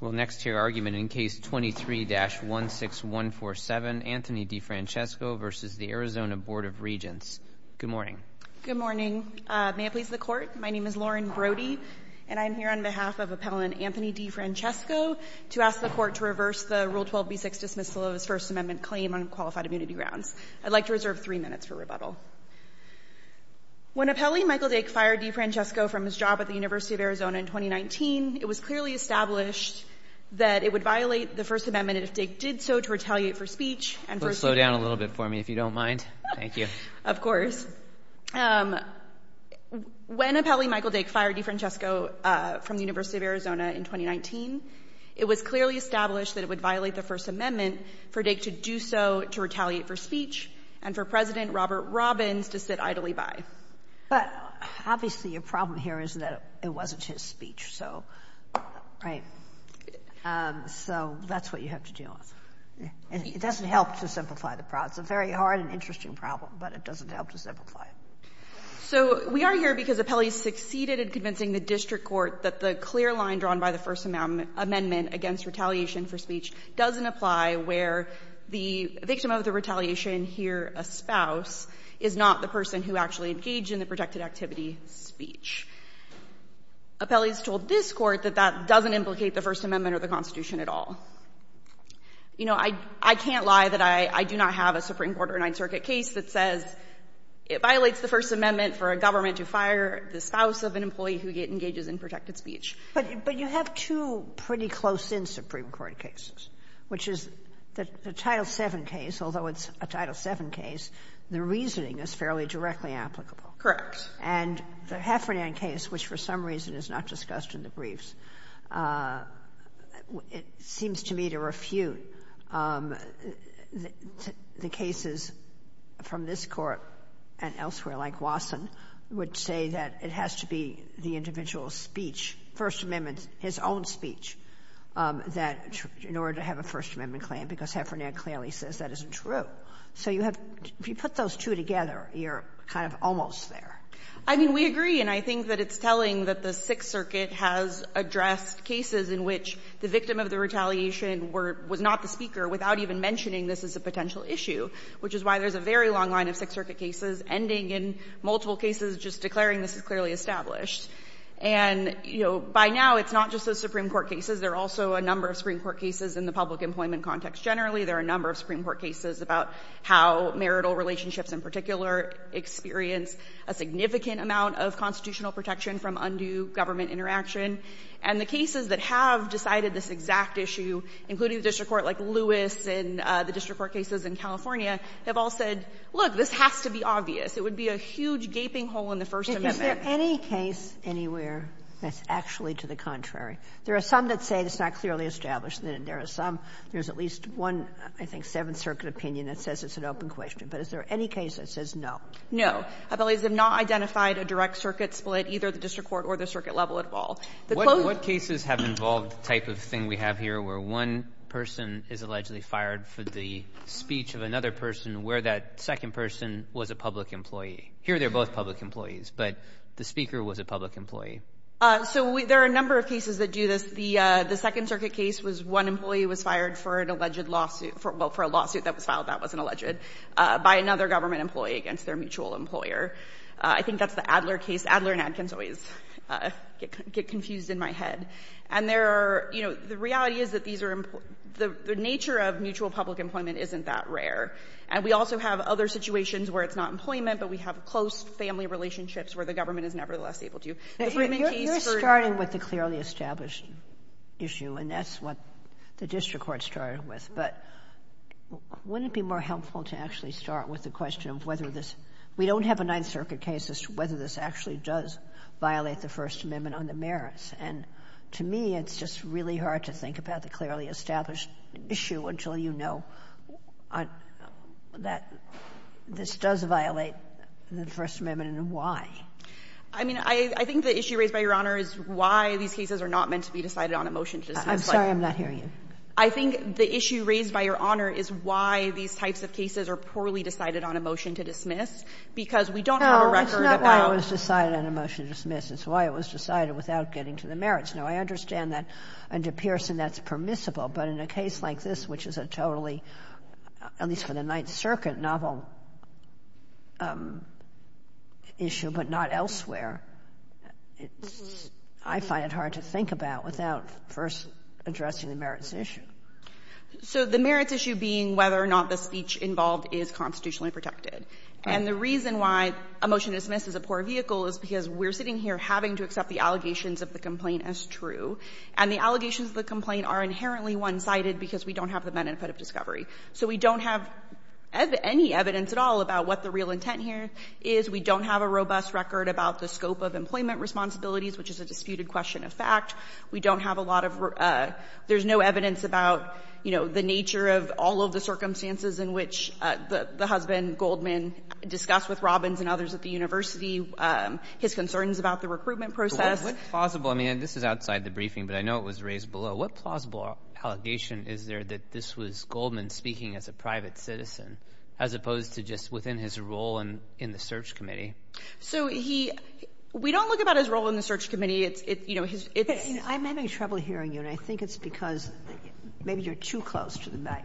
We'll next hear argument in case 23-16147, Anthony DeFrancesco v. the Arizona Board of Good morning. Good morning. May it please the Court, my name is Lauren Brody, and I'm here on behalf of Appellant Anthony DeFrancesco to ask the Court to reverse the Rule 12b6 dismissal of his First Amendment claim on qualified immunity grounds. I'd like to reserve three minutes for rebuttal. When Appellee Michael Dake fired DeFrancesco from his job at the University of Arizona in 2019, it was clearly established that it would violate the First Amendment if Dake did so to retaliate for speech and for speech. Slow down a little bit for me, if you don't mind. Thank you. Of course. When Appellee Michael Dake fired DeFrancesco from the University of Arizona in 2019, it was clearly established that it would violate the First Amendment for Dake to do so to retaliate for speech and for President Robert Robbins to sit idly by. But obviously, your problem here is that it wasn't his speech, so, right? So that's what you have to deal with. It doesn't help to simplify the problem. It's a very hard and interesting problem, but it doesn't help to simplify it. So we are here because Appellee succeeded in convincing the district court that the clear line drawn by the First Amendment against retaliation for speech doesn't apply where the victim of the retaliation here, a spouse, is not the person who actually engaged in the protected activity, speech. Appellee's told this Court that that doesn't implicate the First Amendment or the Constitution at all. You know, I can't lie that I do not have a Supreme Court or a Ninth Circuit case that says it violates the First Amendment for a government to fire the spouse of an employee who engages in protected speech. But you have two pretty close-in Supreme Court cases, which is the Title VII case, although it's a Title VII case, the reasoning is fairly directly applicable. Correct. And the Heffernan case, which for some reason is not discussed in the briefs, it seems to me to refute the cases from this Court and elsewhere, like Wasson would say that it has to be the individual's speech, First Amendment, his own speech, that in order to have a First Amendment claim, because Heffernan clearly says that isn't true. So you have to put those two together, you're kind of almost there. I mean, we agree, and I think that it's telling that the Sixth Circuit has addressed cases in which the victim of the retaliation were — was not the speaker without even mentioning this as a potential issue, which is why there's a very long line of Sixth Circuit cases ending in multiple cases just declaring this is clearly established. And you know, by now, it's not just the Supreme Court cases. There are also a number of Supreme Court cases in the public employment context generally. There are a number of Supreme Court cases about how marital relationships in particular experience a significant amount of constitutional protection from undue government interaction. And the cases that have decided this exact issue, including the district court like Lewis and the district court cases in California, have all said, look, this has to be obvious. It would be a huge gaping hole in the First Amendment. Is there any case anywhere that's actually to the contrary? There are some that say it's not clearly established. There are some, there's at least one, I think, Seventh Circuit opinion that says it's an open question. But is there any case that says no? No. I believe they have not identified a direct circuit split, either the district court or the circuit level at all. The closed —— they fired for the speech of another person where that second person was a public employee. Here, they're both public employees, but the speaker was a public employee. So, there are a number of cases that do this. The Second Circuit case was one employee was fired for an alleged lawsuit — well, for a lawsuit that was filed that wasn't alleged — by another government employee against their mutual employer. I think that's the Adler case. Adler and Adkins always get confused in my head. And there are, you know, the reality is that these are — the nature of mutual public employment isn't that rare. And we also have other situations where it's not employment, but we have close family relationships where the government is nevertheless able to do — You're starting with the clearly established issue, and that's what the district court started with. But wouldn't it be more helpful to actually start with the question of whether this — we don't have a Ninth Circuit case as to whether this actually does violate the First Amendment on the merits. And to me, it's just really hard to think about the clearly established issue until you know that this does violate the First Amendment and why. I mean, I think the issue raised by Your Honor is why these cases are not meant to be decided on a motion to dismiss. I'm sorry, I'm not hearing you. I think the issue raised by Your Honor is why these types of cases are poorly decided on a motion to dismiss, because we don't have a record about — No, it's not why it was decided on a motion to dismiss. It's why it was decided without getting to the merits. Now, I understand that under Pearson that's permissible, but in a case like this, which is a totally, at least for the Ninth Circuit, novel issue, but not elsewhere, I find it hard to think about without first addressing the merits issue. So the merits issue being whether or not the speech involved is constitutionally protected. And the reason why a motion to dismiss is a poor vehicle is because we're sitting here having to accept the allegations of the complaint as true. And the allegations of the complaint are inherently one-sided because we don't have the benefit of discovery. So we don't have any evidence at all about what the real intent here is. We don't have a robust record about the scope of employment responsibilities, which is a disputed question of fact. We don't have a lot of — there's no evidence about, you know, the nature of all of the circumstances in which the husband, Goldman, discussed with Robbins and others at the time about the recruitment process. What plausible — I mean, this is outside the briefing, but I know it was raised below. What plausible allegation is there that this was Goldman speaking as a private citizen as opposed to just within his role in the search committee? So he — we don't look about his role in the search committee. It's, you know, his — I may be having trouble hearing you, and I think it's because maybe you're too close to the mic.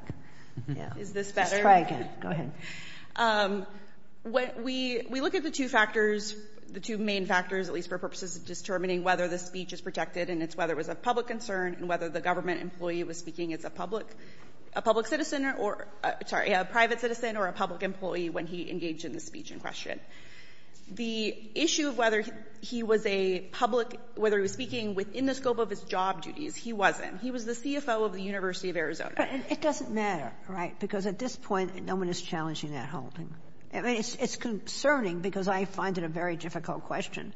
Yeah. Is this better? Just try again. Go ahead. We look at the two factors, the two main factors, at least for purposes of determining whether the speech is protected, and it's whether it was a public concern and whether the government employee was speaking as a public — a public citizen or — sorry, a private citizen or a public employee when he engaged in the speech in question. The issue of whether he was a public — whether he was speaking within the scope of his job duties, he wasn't. He was the CFO of the University of Arizona. But it doesn't matter, right? Because at this point, no one is challenging that holding. I mean, it's concerning because I find it a very difficult question,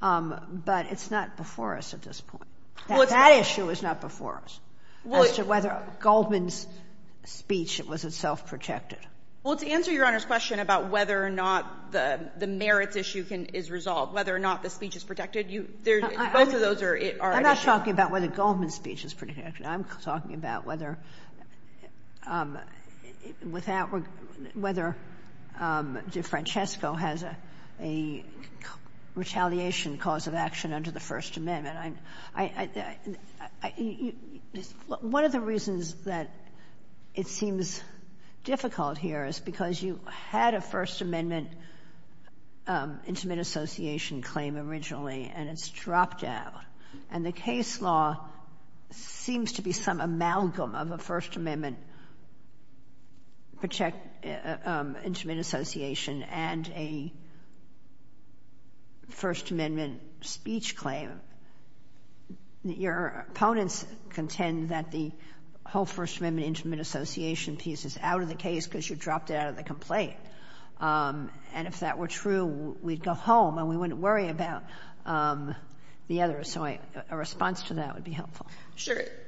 but it's not before us at this point. Well, it's — That issue is not before us as to whether Goldman's speech was itself protected. Well, to answer Your Honor's question about whether or not the merits issue is resolved, whether or not the speech is protected, you — both of those are an issue. I'm not talking about whether Goldman's speech is protected. I'm talking about whether — without — whether DeFrancesco has a retaliation cause of action under the First Amendment. One of the reasons that it seems difficult here is because you had a First Amendment Intimate Association claim originally, and it's dropped out. And the case law seems to be some amalgam of a First Amendment Protect — Intimate Association and a First Amendment speech claim. Your opponents contend that the whole First Amendment Intimate Association piece is out of the case because you dropped it out of the complaint. And if that were true, we'd go home and we wouldn't worry about the other. So a response to that would be helpful.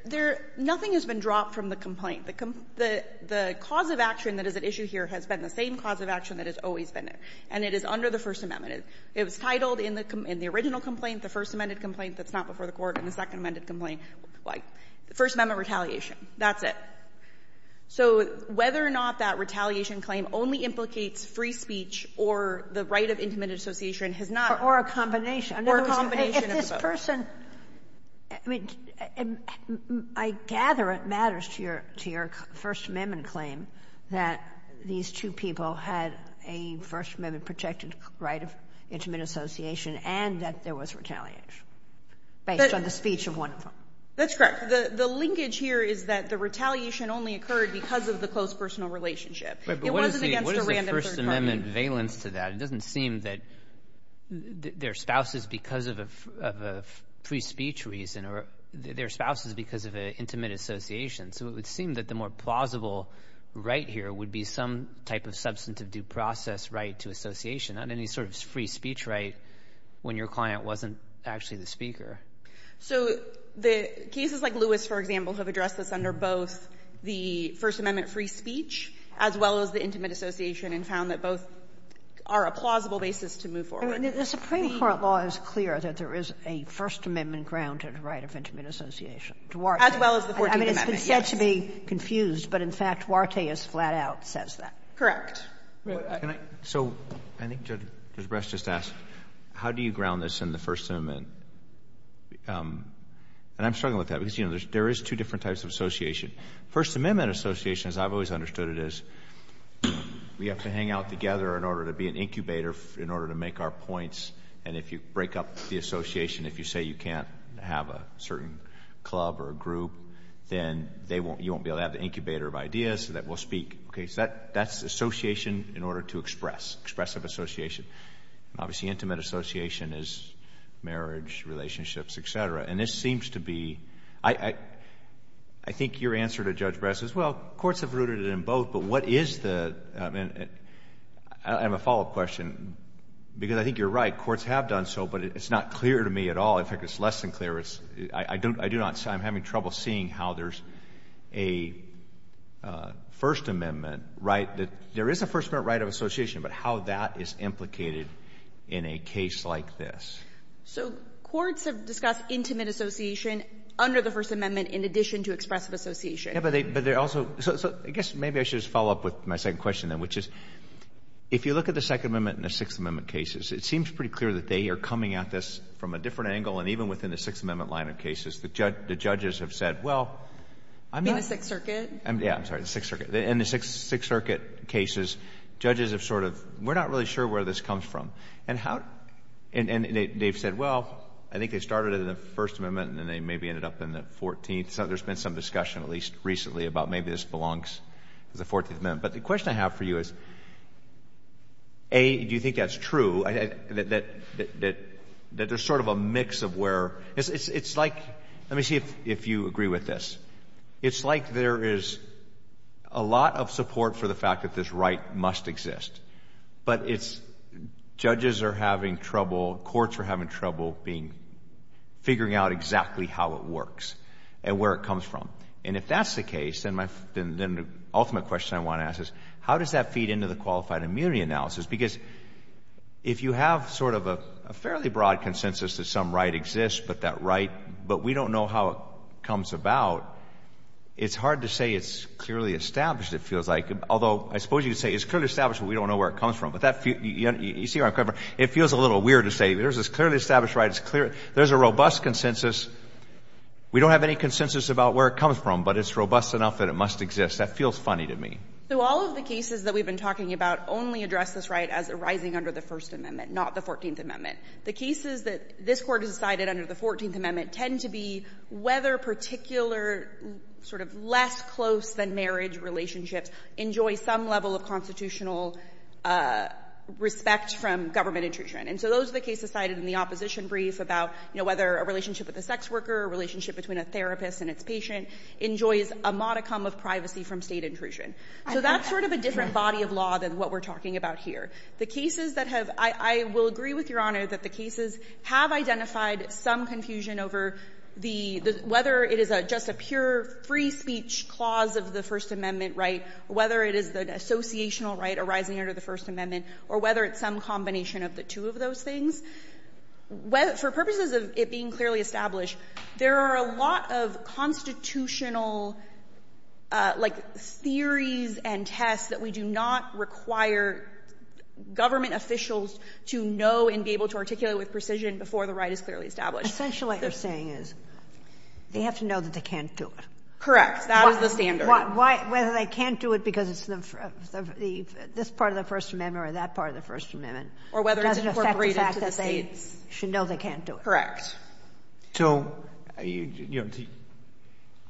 There — nothing has been dropped from the complaint. The cause of action that is at issue here has been the same cause of action that has always been there, and it is under the First Amendment. It was titled in the original complaint, the First Amendment complaint that's not before the Court, and the Second Amendment complaint, like, First Amendment retaliation. That's it. So whether or not that retaliation claim only implicates free speech or the right of Intimate Association has not — Or a combination. Or a combination of both. But the person — I mean, I gather it matters to your — to your First Amendment claim that these two people had a First Amendment Protected Right of Intimate Association and that there was retaliation based on the speech of one of them. That's correct. The — the linkage here is that the retaliation only occurred because of the close personal relationship. It wasn't against a random third party. But what is the — what is the First Amendment valence to that? It doesn't seem that they're spouses because of a — of a free speech reason, or they're spouses because of an intimate association. So it would seem that the more plausible right here would be some type of substantive due process right to association, not any sort of free speech right when your client wasn't actually the speaker. So the cases like Lewis, for example, have addressed this under both the First Amendment free speech, as well as the intimate association, and found that both are a plausible basis to move forward. The Supreme Court law is clear that there is a First Amendment-grounded right of intimate association. As well as the Fourteenth Amendment. I mean, it's been said to be confused, but in fact, Duarte is flat out says that. Correct. Can I — so I think Judge Bresch just asked, how do you ground this in the First Amendment? And I'm struggling with that because, you know, there is two different types of association. First Amendment association, as I've always understood it is, we have to hang out together in order to be an incubator, in order to make our points, and if you break up the association, if you say you can't have a certain club or a group, then they won't — you won't be able to have the incubator of ideas so that we'll speak. Okay? So that's association in order to express. Expressive association. Obviously, intimate association is marriage, relationships, et cetera. And this seems to be — I think your answer to Judge Bresch is, well, courts have included it in both, but what is the — I have a follow-up question, because I think you're right. Courts have done so, but it's not clear to me at all. In fact, it's less than clear. I do not — I'm having trouble seeing how there's a First Amendment right — there is a First Amendment right of association, but how that is implicated in a case like this. So courts have discussed intimate association under the First Amendment in addition to expressive association. But they also — so I guess maybe I should just follow up with my second question, then, which is, if you look at the Second Amendment and the Sixth Amendment cases, it seems pretty clear that they are coming at this from a different angle, and even within the Sixth Amendment line of cases, the judges have said, well — In the Sixth Circuit? Yeah. I'm sorry. The Sixth Circuit. In the Sixth Circuit cases, judges have sort of — we're not really sure where this comes from. And how — and they've said, well, I think they started in the First Amendment, and then they maybe ended up in the Fourteenth. There's been some discussion, at least recently, about maybe this belongs to the Fourteenth Amendment. But the question I have for you is, A, do you think that's true, that there's sort of a mix of where — it's like — let me see if you agree with this. It's like there is a lot of support for the fact that this right must exist, but it's — judges are having trouble, courts are having trouble being — figuring out exactly how it works. And where it comes from. And if that's the case, then the ultimate question I want to ask is, how does that feed into the qualified immunity analysis? Because if you have sort of a fairly broad consensus that some right exists, but that right — but we don't know how it comes about, it's hard to say it's clearly established, it feels like. Although, I suppose you could say it's clearly established, but we don't know where it comes from. But that — you see where I'm coming from. It feels a little weird to say, there's this clearly established right, it's clear — there's a robust consensus. We don't have any consensus about where it comes from, but it's robust enough that it must exist. That feels funny to me. So all of the cases that we've been talking about only address this right as arising under the First Amendment, not the Fourteenth Amendment. The cases that this Court has decided under the Fourteenth Amendment tend to be whether particular sort of less close-than-marriage relationships enjoy some level of constitutional respect from government intrusion. And so those are the cases cited in the opposition brief about, you know, whether a relationship with a sex worker, a relationship between a therapist and its patient enjoys a modicum of privacy from state intrusion. So that's sort of a different body of law than what we're talking about here. The cases that have — I will agree with Your Honor that the cases have identified some confusion over the — whether it is just a pure free speech clause of the First Amendment right, whether it is the associational right arising under the First Amendment, or whether it's some combination of the two of those things. For purposes of it being clearly established, there are a lot of constitutional, like, theories and tests that we do not require government officials to know and be able to articulate with precision before the right is clearly established. Essentially, what you're saying is they have to know that they can't do it. Correct. That is the standard. Why — whether they can't do it because it's the — this part of the First Amendment or that part of the First Amendment doesn't affect the fact that they can't do it. Because they should know they can't do it. So, you know,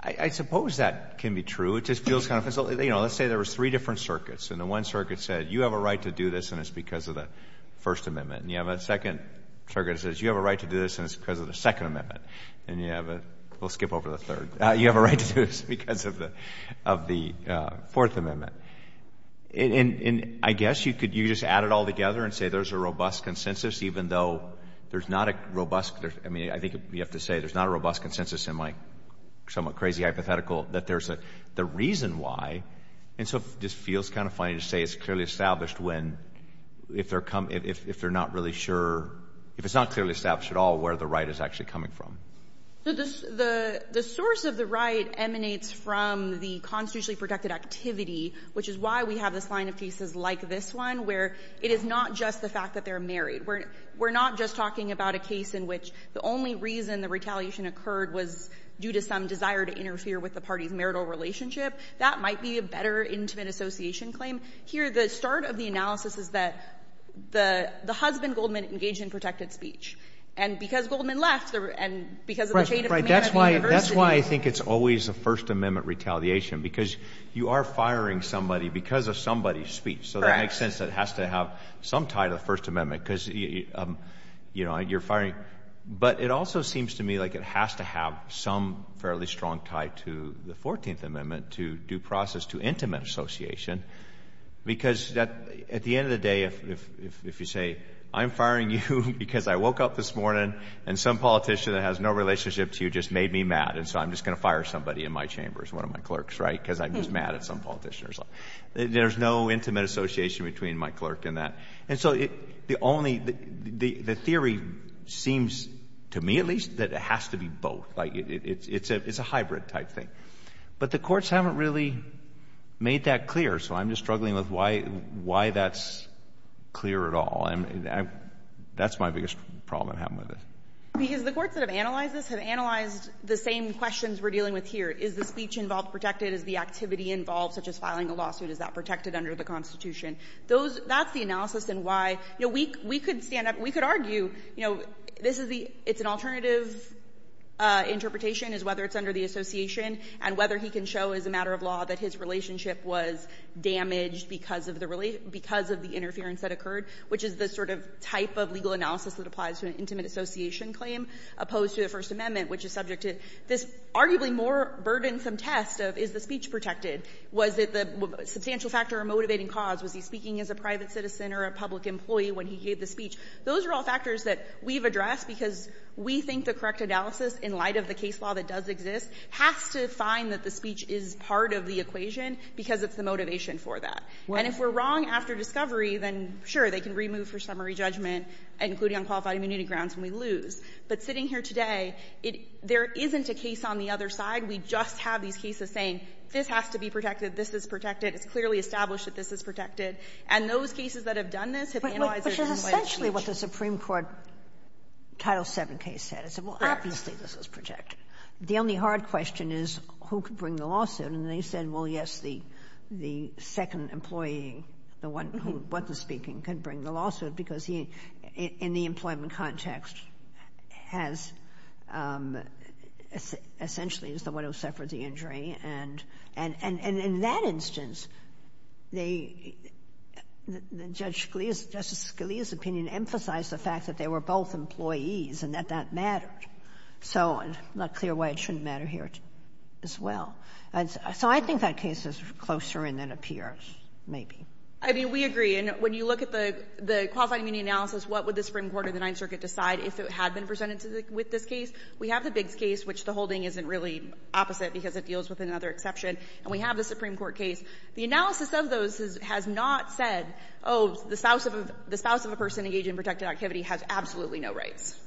I suppose that can be true. It just feels kind of — you know, let's say there were three different circuits, and the one circuit said, you have a right to do this, and it's because of the First Amendment. And you have a second circuit that says, you have a right to do this, and it's because of the Second Amendment. And you have a — we'll skip over the third. You have a right to do this because of the Fourth Amendment. And I guess you could — you could just add it all together and say there's a robust consensus, even though there's not a robust — I mean, I think you have to say there's not a robust consensus in my somewhat crazy hypothetical that there's a — the reason why. And so it just feels kind of funny to say it's clearly established when — if they're — if they're not really sure — if it's not clearly established at all where the right is actually coming from. So the — the source of the right emanates from the constitutionally protected activity, which is why we have this line of cases like this one, where it is not just the fact that they're married. We're not just talking about a case in which the only reason the retaliation occurred was due to some desire to interfere with the party's marital relationship. That might be a better intimate association claim. Here, the start of the analysis is that the husband, Goldman, engaged in protected speech. And because Goldman left, and because of the shade of a man at the university — That's why — that's why I think it's always a First Amendment retaliation, because you are firing somebody because of somebody's speech. Correct. It makes sense that it has to have some tie to the First Amendment, because, you know, you're firing — but it also seems to me like it has to have some fairly strong tie to the 14th Amendment, to due process, to intimate association. Because at the end of the day, if you say, I'm firing you because I woke up this morning and some politician that has no relationship to you just made me mad, and so I'm just going to fire somebody in my chambers, one of my clerks, right, because I'm just mad at some politician or something. There's no intimate association between my clerk and that. And so the only — the theory seems, to me at least, that it has to be both. Like, it's a hybrid type thing. But the courts haven't really made that clear, so I'm just struggling with why that's clear at all. And that's my biggest problem I have with it. Because the courts that have analyzed this have analyzed the same questions we're dealing with here. Is the speech involved protected? Is the activity involved, such as filing a lawsuit, is that protected under the Constitution? Those — that's the analysis and why — you know, we could stand up — we could argue, you know, this is the — it's an alternative interpretation, is whether it's under the association and whether he can show as a matter of law that his relationship was damaged because of the — because of the interference that occurred, which is the sort of type of legal analysis that applies to an intimate association claim, opposed to the First Amendment, which is subject to this arguably more burdensome test of is the speech protected? Was it the substantial factor or motivating cause? Was he speaking as a private citizen or a public employee when he gave the speech? Those are all factors that we've addressed because we think the correct analysis, in light of the case law that does exist, has to find that the speech is part of the equation because it's the motivation for that. And if we're wrong after discovery, then sure, they can remove for summary judgment, including on qualified immunity grounds, and we lose. But sitting here today, it — there isn't a case on the other side. And we just have these cases saying, this has to be protected, this is protected, it's clearly established that this is protected. And those cases that have done this have analyzed it in light of speech. But which is essentially what the Supreme Court Title VII case said. It said, well, obviously, this is protected. The only hard question is who could bring the lawsuit, and they said, well, yes, the second employee, the one who wasn't speaking, can bring the lawsuit because he, in the employment context, has — essentially is the one who suffered the injury. And in that instance, they — Judge Scalia's — Justice Scalia's opinion emphasized the fact that they were both employees and that that mattered. So I'm not clear why it shouldn't matter here as well. So I think that case is closer in than it appears, maybe. I mean, we agree. And when you look at the qualified immunity analysis, what would the Supreme Court of the Ninth Circuit decide if it had been presented with this case? We have the Biggs case, which the holding isn't really opposite because it deals with another exception. And we have the Supreme Court case. The analysis of those has not said, oh, the spouse of a person engaged in protected activity has absolutely no rights.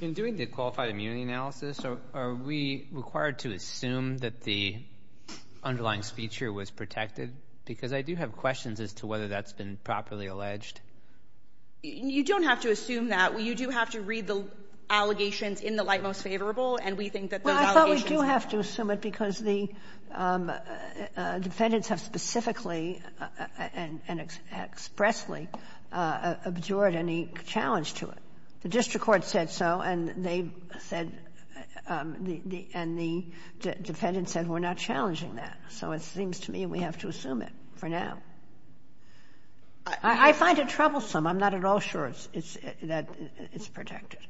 In doing the qualified immunity analysis, are we required to assume that the underlying speech here was protected? Because I do have questions as to whether that's been properly alleged. You don't have to assume that. You do have to read the allegations in the light most favorable. And we think that those allegations — Well, I thought we do have to assume it because the defendants have specifically and expressly abjured any challenge to it. The district court said so, and they said — and the defendants said we're not challenging that. So it seems to me we have to assume it for now. I find it troublesome. I'm not at all sure it's — that it's protected.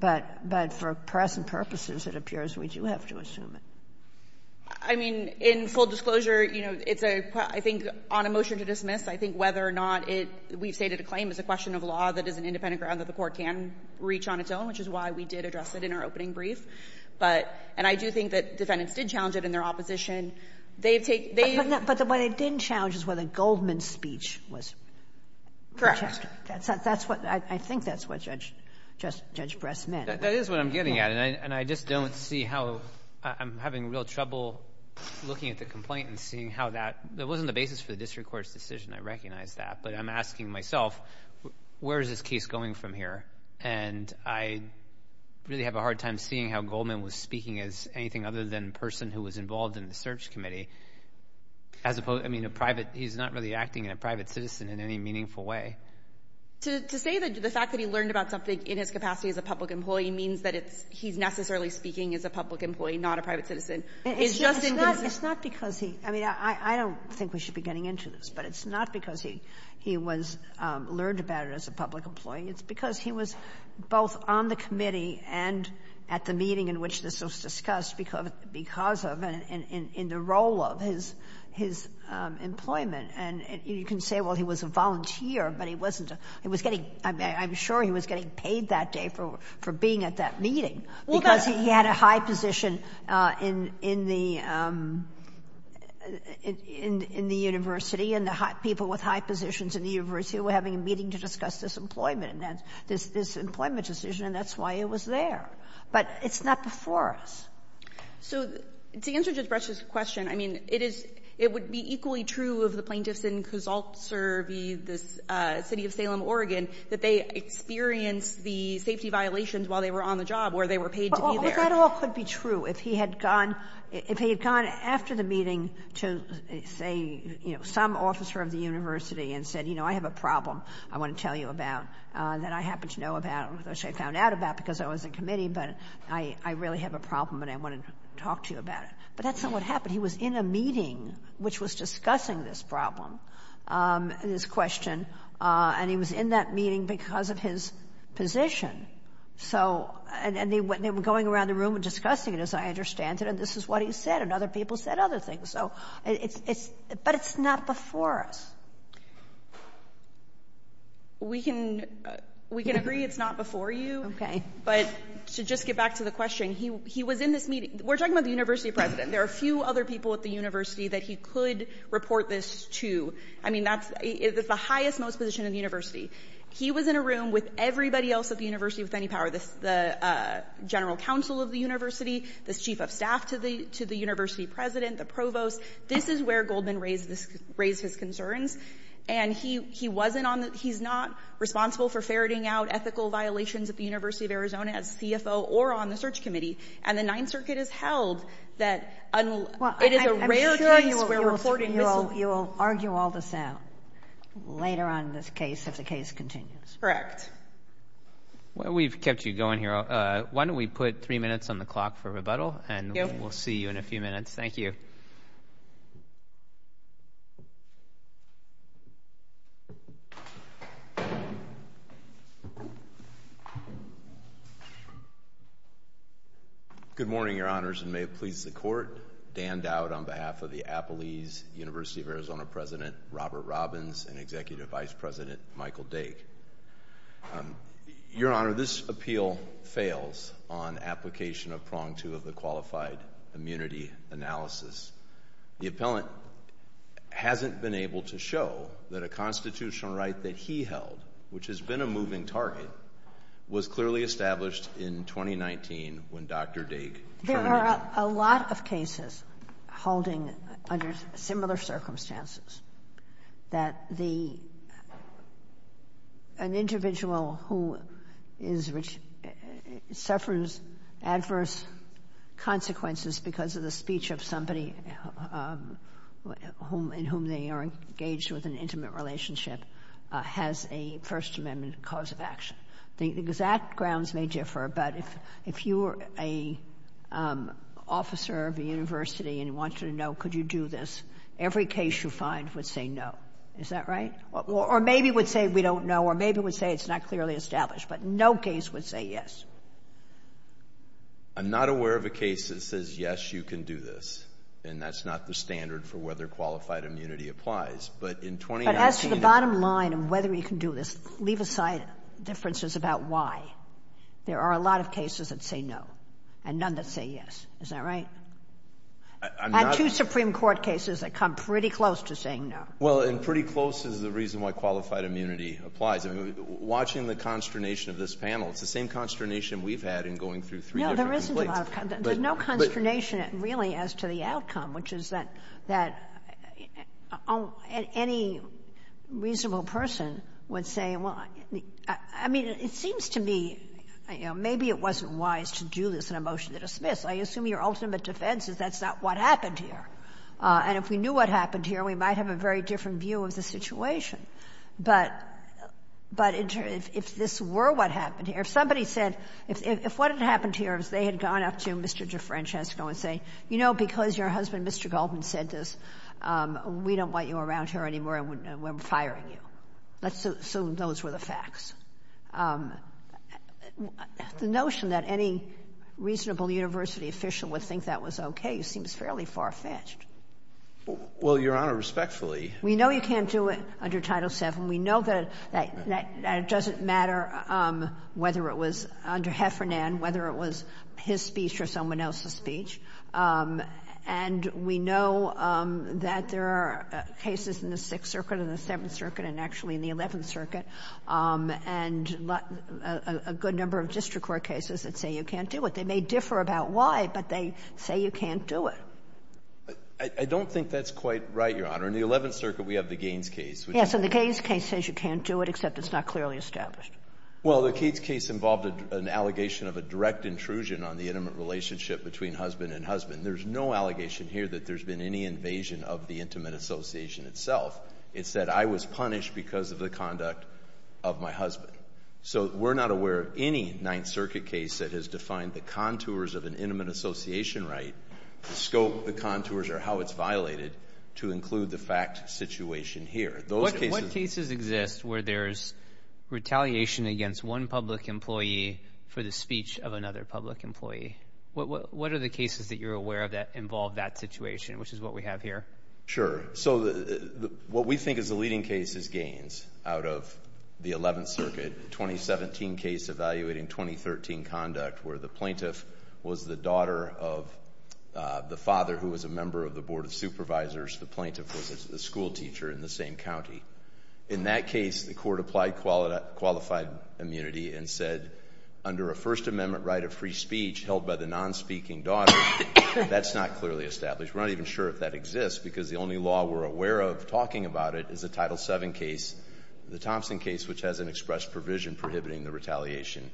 But for present purposes, it appears we do have to assume it. I mean, in full disclosure, you know, it's a — I think on a motion to dismiss, I think whether or not it — we've stated a claim as a question of law that is an independent ground that the court can reach on its own, which is why we did address it in our opening brief. But — and I do think that defendants did challenge it in their opposition. They've taken — But what they didn't challenge is whether Goldman's speech was — Correct. That's — that's what — I think that's what Judge — Judge Bress meant. That is what I'm getting at. And I just don't see how — I'm having real trouble looking at the complaint and seeing how that — that wasn't the basis for the district court's decision. I recognize that. But I'm asking myself, where is this case going from here? And I really have a hard time seeing how Goldman was speaking as anything other than a person who was involved in the search committee, as opposed — I mean, a private — he's not really acting in a private citizen in any meaningful way. To say that — the fact that he learned about something in his capacity as a public employee means that it's — he's necessarily speaking as a public employee, not a private citizen, is just — It's not — it's not because he — I mean, I don't think we should be getting into this. But it's not because he — he was — learned about it as a public employee. It's because he was both on the committee and at the meeting in which this was discussed because of — in the role of his — his employment. And you can say, well, he was a volunteer, but he wasn't a — he was getting — I'm sure he was getting paid that day for being at that meeting because he had a high position in the — in the university, and the people with high positions in the university were having a meeting to discuss this employment — this employment decision, and that's why he was there. But it's not before us. So to answer Judge Bresch's question, I mean, it is — it would be equally true of the plaintiffs in Kosoltservi, the city of Salem, Oregon, that they experienced the safety violations while they were on the job, where they were paid to be there. Well, that all could be true. If he had gone — if he had gone after the meeting to, say, you know, some officer of the university and said, you know, I have a problem I want to tell you about that I happen to know about, which I found out about because I was in committee, but I really have a problem and I want to talk to you about it. But that's not what happened. He was in a meeting which was discussing this problem, this question, and he was in that meeting because of his position. So — and they were going around the room and discussing it, as I understand it, and this is what he said, and other people said other things. So it's — but it's not before us. We can — we can agree it's not before you, but to just get back to the question, he was in this meeting — we're talking about the university president. There are a few other people at the university that he could report this to. I mean, that's — it's the highest-most position in the university. He was in a room with everybody else at the university with any power, the general counsel of the university, the chief of staff to the university president, the provost. This is where Goldman raised his concerns, and he wasn't on the — he's not responsible for ferreting out ethical violations at the University of Arizona as CFO or on the search committee, and the Ninth Circuit has held that — Well, I'm sure you will argue all this out later on in this case if the case continues. Correct. Well, we've kept you going here. Why don't we put three minutes on the clock for rebuttal, and we'll see you in a few minutes. Thank you. Good morning, Your Honors, and may it please the Court, Dan Dowd on behalf of the Appelese University of Arizona President Robert Robbins and Executive Vice President Michael Dake. Your Honor, this appeal fails on application of prong two of the Qualified Immunity Analysis. The appellant hasn't been able to show that a constitutional right that he held, which has been a moving target, was clearly established in 2019 when Dr. Dake — There are a lot of cases holding under similar circumstances, that the — an individual who is — suffers adverse consequences because of the speech of somebody whom — in whom they are engaged with an intimate relationship has a First Amendment cause of action. The exact grounds may differ, but if you were an officer of a university and wanted to know could you do this, every case you find would say no. Is that right? Or maybe would say we don't know, or maybe would say it's not clearly established, but no case would say yes. I'm not aware of a case that says yes, you can do this, and that's not the standard for whether qualified immunity applies. But in 2019 — The bottom line of whether you can do this, leave aside differences about why. There are a lot of cases that say no, and none that say yes. Is that right? I'm not — I have two Supreme Court cases that come pretty close to saying no. Well, and pretty close is the reason why qualified immunity applies. I mean, watching the consternation of this panel, it's the same consternation we've had in going through three different complaints. No, there isn't a lot of — there's no consternation, really, as to the outcome, which is that — that any reasonable person would say, well, I mean, it seems to me, you know, maybe it wasn't wise to do this in a motion to dismiss. I assume your ultimate defense is that's not what happened here. And if we knew what happened here, we might have a very different view of the situation. But if this were what happened here, if somebody said — if what had happened here is they had gone up to Mr. DeFrancesco and said, you know, because your husband, Mr. Goldman, said this, we don't want you around here anymore, and we're firing you, let's assume those were the facts. The notion that any reasonable university official would think that was okay seems fairly far-fetched. Well, Your Honor, respectfully — We know you can't do it under Title VII. We know that it doesn't matter whether it was under Heffernan, whether it was his speech or someone else's speech. And we know that there are cases in the Sixth Circuit and the Seventh Circuit and actually in the Eleventh Circuit, and a good number of district court cases that say you can't do it. They may differ about why, but they say you can't do it. I don't think that's quite right, Your Honor. In the Eleventh Circuit, we have the Gaines case, which is — Yes, and the Gaines case says you can't do it, except it's not clearly established. Well, the Gaines case involved an allegation of a direct intrusion on the intimate relationship between husband and husband. There's no allegation here that there's been any invasion of the intimate association itself. It said, I was punished because of the conduct of my husband. So we're not aware of any Ninth Circuit case that has defined the contours of an intimate association right, the scope, the contours, or how it's violated, to include the fact situation here. Those cases — What cases exist where there's retaliation against one public employee for the speech of another public employee? What are the cases that you're aware of that involve that situation, which is what we have here? Sure. So, what we think is the leading case is Gaines out of the Eleventh Circuit 2017 case evaluating 2013 conduct, where the plaintiff was the daughter of the father who was a member of the Board of Supervisors. The plaintiff was a schoolteacher in the same county. In that case, the court applied qualified immunity and said, under a First Amendment right of free speech held by the nonspeaking daughter, that's not clearly established. We're not even sure if that exists, because the only law we're aware of talking about it is the Title VII case, the Thompson case, which has an express provision prohibiting the retaliation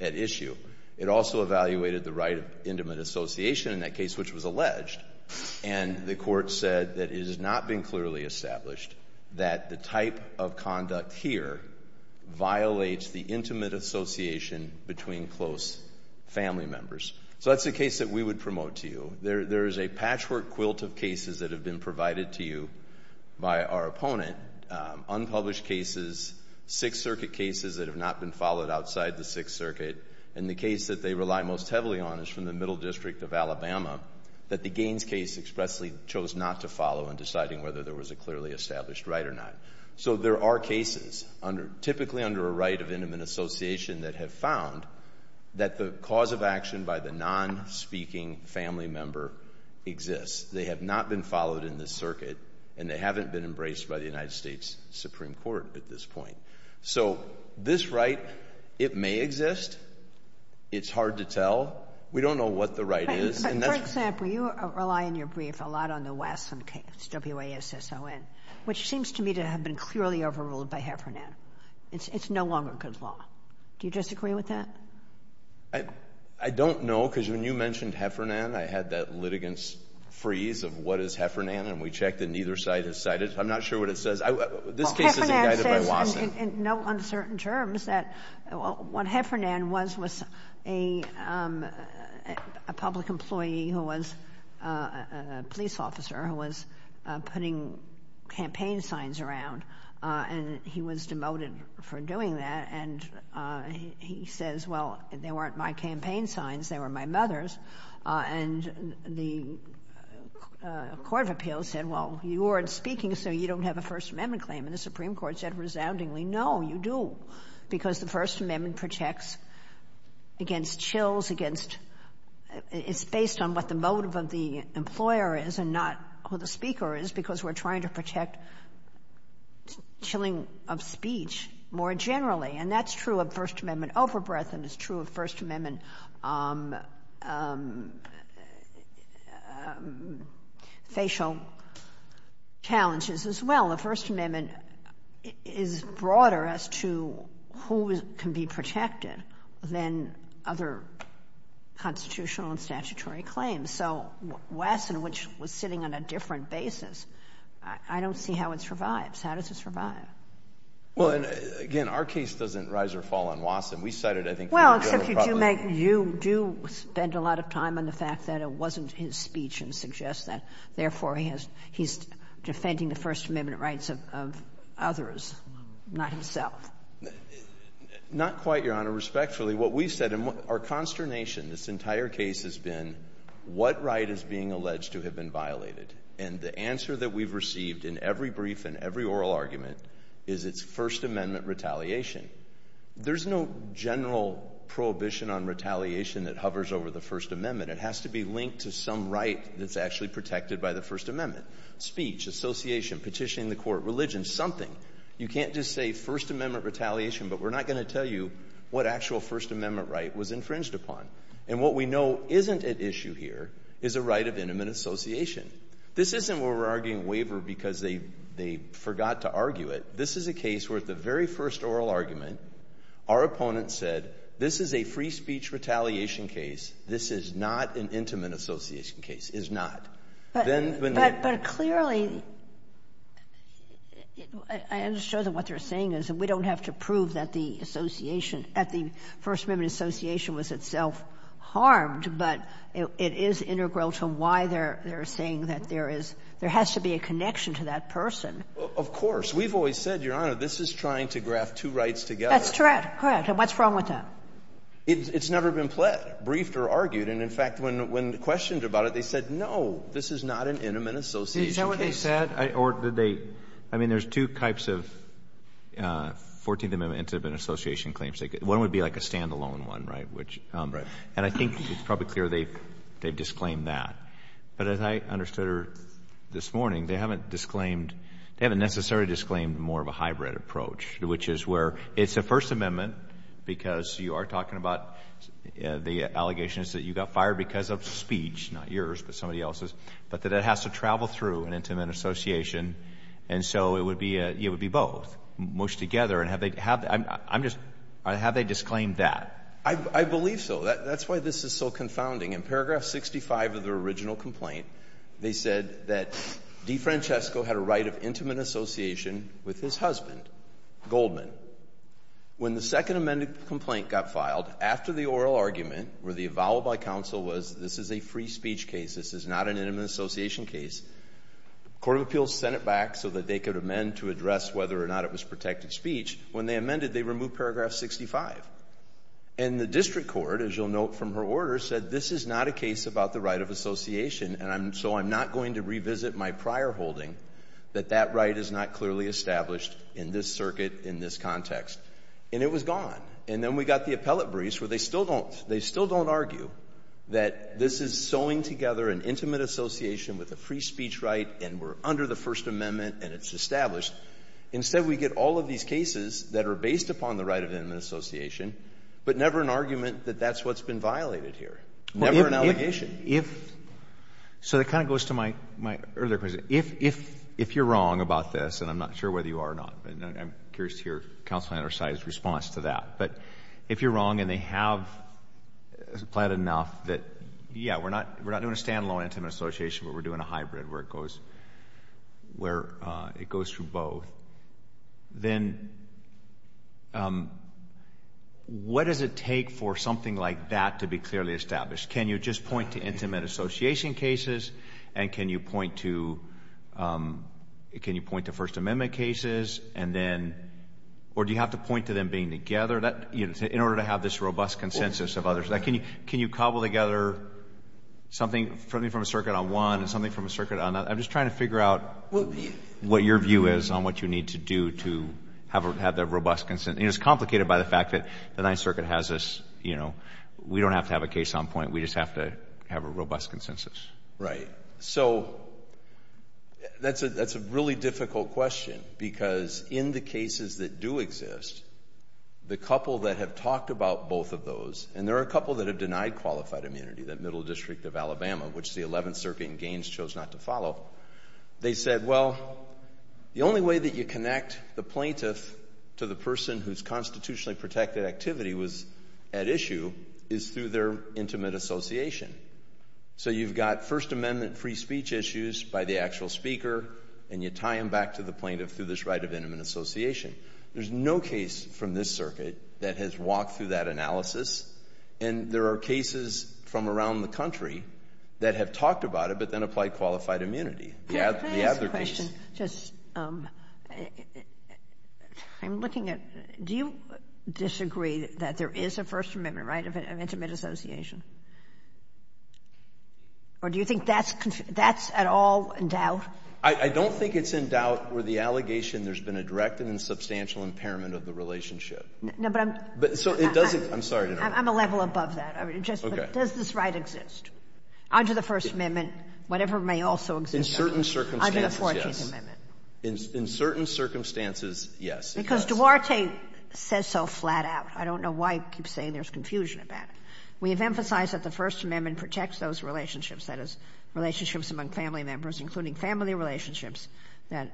at issue. It also evaluated the right of intimate association in that case, which was alleged, and the court said that it has not been clearly established that the type of conduct here violates the intimate association between close family members. So that's a case that we would promote to you. There is a patchwork quilt of cases that have been provided to you by our opponent, unpublished cases, Sixth Circuit cases that have not been followed outside the Sixth Circuit, and the case that they rely most heavily on is from the Middle District of Alabama that the Gaines case expressly chose not to follow in deciding whether there was a clearly established right or not. So there are cases, typically under a right of intimate association, that have found that the cause of action by the nonspeaking family member exists. They have not been followed in this circuit, and they haven't been embraced by the United States Supreme Court at this point. So this right, it may exist. It's hard to tell. We don't know what the right is. But for example, you rely in your brief a lot on the West, on WASSON, which seems to me to have been clearly overruled by Heffernan. It's no longer good law. Do you disagree with that? I don't know, because when you mentioned Heffernan, I had that litigant's freeze of what is Heffernan, and we checked, and neither side has cited it. I'm not sure what it says. This case is indicted by WASSON. Well, Heffernan says in no uncertain terms that what Heffernan was was a public employee who was a police officer who was putting campaign signs around, and he was demoted for doing that. And he says, well, they weren't my campaign signs. They were my mother's. And the Court of Appeals said, well, you weren't speaking, so you don't have a First Amendment claim. And the Supreme Court said resoundingly, no, you do, because the First Amendment protects against chills, against, it's based on what the motive of the employer is and not who the speaker is, because we're trying to protect chilling of speech more generally. And that's true of First Amendment overbreath, and it's true of First Amendment facial challenges as well. Well, the First Amendment is broader as to who can be protected than other constitutional and statutory claims. So WASSON, which was sitting on a different basis, I don't see how it survives. How does it survive? Well, and again, our case doesn't rise or fall on WASSON. We cited, I think, three or four other problems. Well, except you do make, you do spend a lot of time on the fact that it wasn't his speech Therefore, he has, he's defending the First Amendment rights of others, not himself. Not quite, Your Honor. Respectfully, what we've said, our consternation this entire case has been what right is being alleged to have been violated? And the answer that we've received in every brief and every oral argument is it's First Amendment retaliation. There's no general prohibition on retaliation that hovers over the First Amendment. It has to be linked to some right that's actually protected by the First Amendment. Speech, association, petitioning the court, religion, something. You can't just say First Amendment retaliation, but we're not going to tell you what actual First Amendment right was infringed upon. And what we know isn't at issue here is a right of intimate association. This isn't where we're arguing waiver because they forgot to argue it. This is a case where at the very first oral argument, our opponent said, this is a free speech retaliation case. This is not an intimate association case. Is not. But clearly, I understand what they're saying is that we don't have to prove that the association at the First Amendment association was itself harmed, but it is integral to why they're saying that there is, there has to be a connection to that person. Of course. We've always said, Your Honor, this is trying to graft two rights together. That's correct. Correct. And what's wrong with that? It's never been briefed or argued. And in fact, when questioned about it, they said, no, this is not an intimate association case. Is that what they said? Or did they, I mean, there's two types of 14th Amendment intimate association claims. One would be like a standalone one, right? Which. And I think it's probably clear they've disclaimed that. But as I understood her this morning, they haven't disclaimed, they haven't necessarily disclaimed more of a hybrid approach, which is where it's a First Amendment because you are talking about the allegations that you got fired because of speech, not yours, but somebody else's, but that it has to travel through an intimate association. And so it would be, it would be both, mushed together and have they, I'm just, have they disclaimed that? I believe so. That's why this is so confounding. In paragraph 65 of the original complaint, they said that DeFrancesco had a right of intimate association with his husband, Goldman. When the second amended complaint got filed, after the oral argument where the avowal by counsel was this is a free speech case, this is not an intimate association case, the Court of Appeals sent it back so that they could amend to address whether or not it was protected speech. When they amended, they removed paragraph 65. And the district court, as you'll note from her order, said this is not a case about the right of association, and so I'm not going to revisit my prior holding that that right is not clearly established in this circuit, in this context. And it was gone. And then we got the appellate briefs where they still don't, they still don't argue that this is sewing together an intimate association with a free speech right and we're under the First Amendment and it's established. Instead we get all of these cases that are based upon the right of intimate association, but never an argument that that's what's been violated here, never an allegation. And if, so that kind of goes to my earlier question, if you're wrong about this, and I'm not sure whether you are or not, but I'm curious to hear counsel and our side's response to that, but if you're wrong and they have applied enough that, yeah, we're not doing a standalone intimate association, but we're doing a hybrid where it goes, where it goes through both, then what does it take for something like that to be clearly established? Can you just point to intimate association cases and can you point to, can you point to First Amendment cases and then, or do you have to point to them being together, in order to have this robust consensus of others? Can you cobble together something from a circuit on one and something from a circuit on another? I'm just trying to figure out what your view is on what you need to do to have that robust consensus. It's complicated by the fact that the Ninth Circuit has this, you know, we don't have a case on point, we just have to have a robust consensus. Right. So, that's a really difficult question because in the cases that do exist, the couple that have talked about both of those, and there are a couple that have denied qualified immunity, that Middle District of Alabama, which the Eleventh Circuit in Gaines chose not to follow, they said, well, the only way that you connect the plaintiff to the person whose constitutionally protected activity was at issue, is through their intimate association. So you've got First Amendment free speech issues by the actual speaker, and you tie them back to the plaintiff through this right of intimate association. There's no case from this circuit that has walked through that analysis, and there are cases from around the country that have talked about it, but then applied qualified immunity. Can I ask a question? Just, I'm looking at, do you disagree that there is a First Amendment right of intimate association? Or do you think that's, that's at all in doubt? I don't think it's in doubt where the allegation there's been a direct and substantial impairment of the relationship. No, but I'm. So, it doesn't, I'm sorry to interrupt. I'm a level above that. Okay. Just, does this right exist? Under the First Amendment, whatever may also exist. In certain circumstances, yes. Under the 14th Amendment. In certain circumstances, yes. Because Duarte says so flat out. I don't know why he keeps saying there's confusion about it. We have emphasized that the First Amendment protects those relationships, that is, relationships among family members, including family relationships that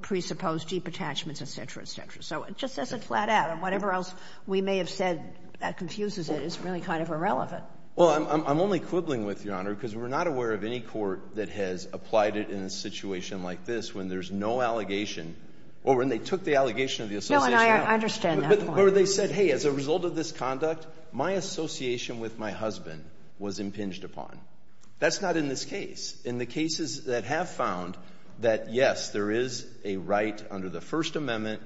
presuppose deep attachments, et cetera, et cetera. So it just says it flat out, and whatever else we may have said that confuses it is really kind of irrelevant. Well, I'm only quibbling with, Your Honor, because we're not aware of any court that has applied it in a situation like this when there's no allegation, or when they took the allegation of the association. No, and I understand that point. But where they said, hey, as a result of this conduct, my association with my husband was impinged upon. That's not in this case. In the cases that have found that, yes, there is a right under the First Amendment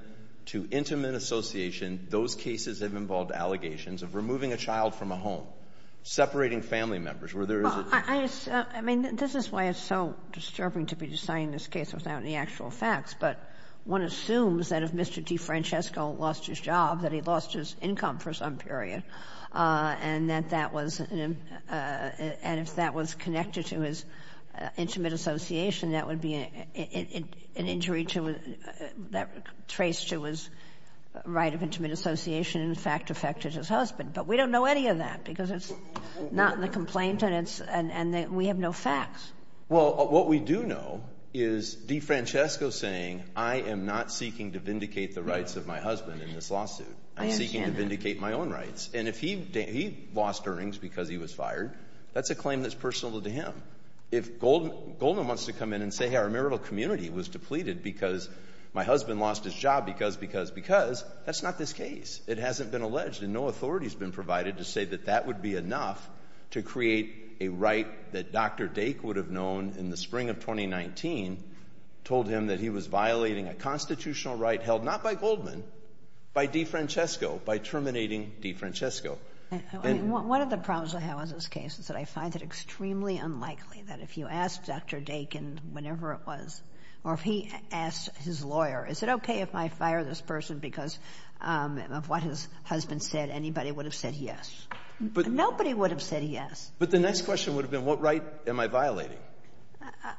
to intimate association, those cases have involved allegations of removing a child from a home, separating family members, where there is a. I mean, this is why it's so disturbing to be deciding this case without any actual facts. But one assumes that if Mr. DeFrancesco lost his job, that he lost his income for some period, and that that was, and if that was connected to his intimate association, that would be an injury to, that traced to his right of intimate association, in fact, affected his husband. But we don't know any of that, because it's not in the complaint, and it's, and we have no facts. Well, what we do know is DeFrancesco saying, I am not seeking to vindicate the rights of my husband in this lawsuit. I understand that. I'm seeking to vindicate my own rights. And if he lost earnings because he was fired, that's a claim that's personal to him. If Goldman wants to come in and say, hey, our marital community was depleted because my husband lost his job because, because, because, that's not this case. It hasn't been alleged, and no authority has been provided to say that that would be enough to create a right that Dr. Dake would have known in the spring of 2019, told him that he was violating a constitutional right held not by Goldman, by DeFrancesco, by terminating DeFrancesco. I mean, one of the problems I have with this case is that I find it extremely unlikely that if you ask Dr. Dake, and whenever it was, or if he asked his lawyer, is it okay if I fire this person because of what his husband said, anybody would have said yes. Nobody would have said yes. But the next question would have been, what right am I violating?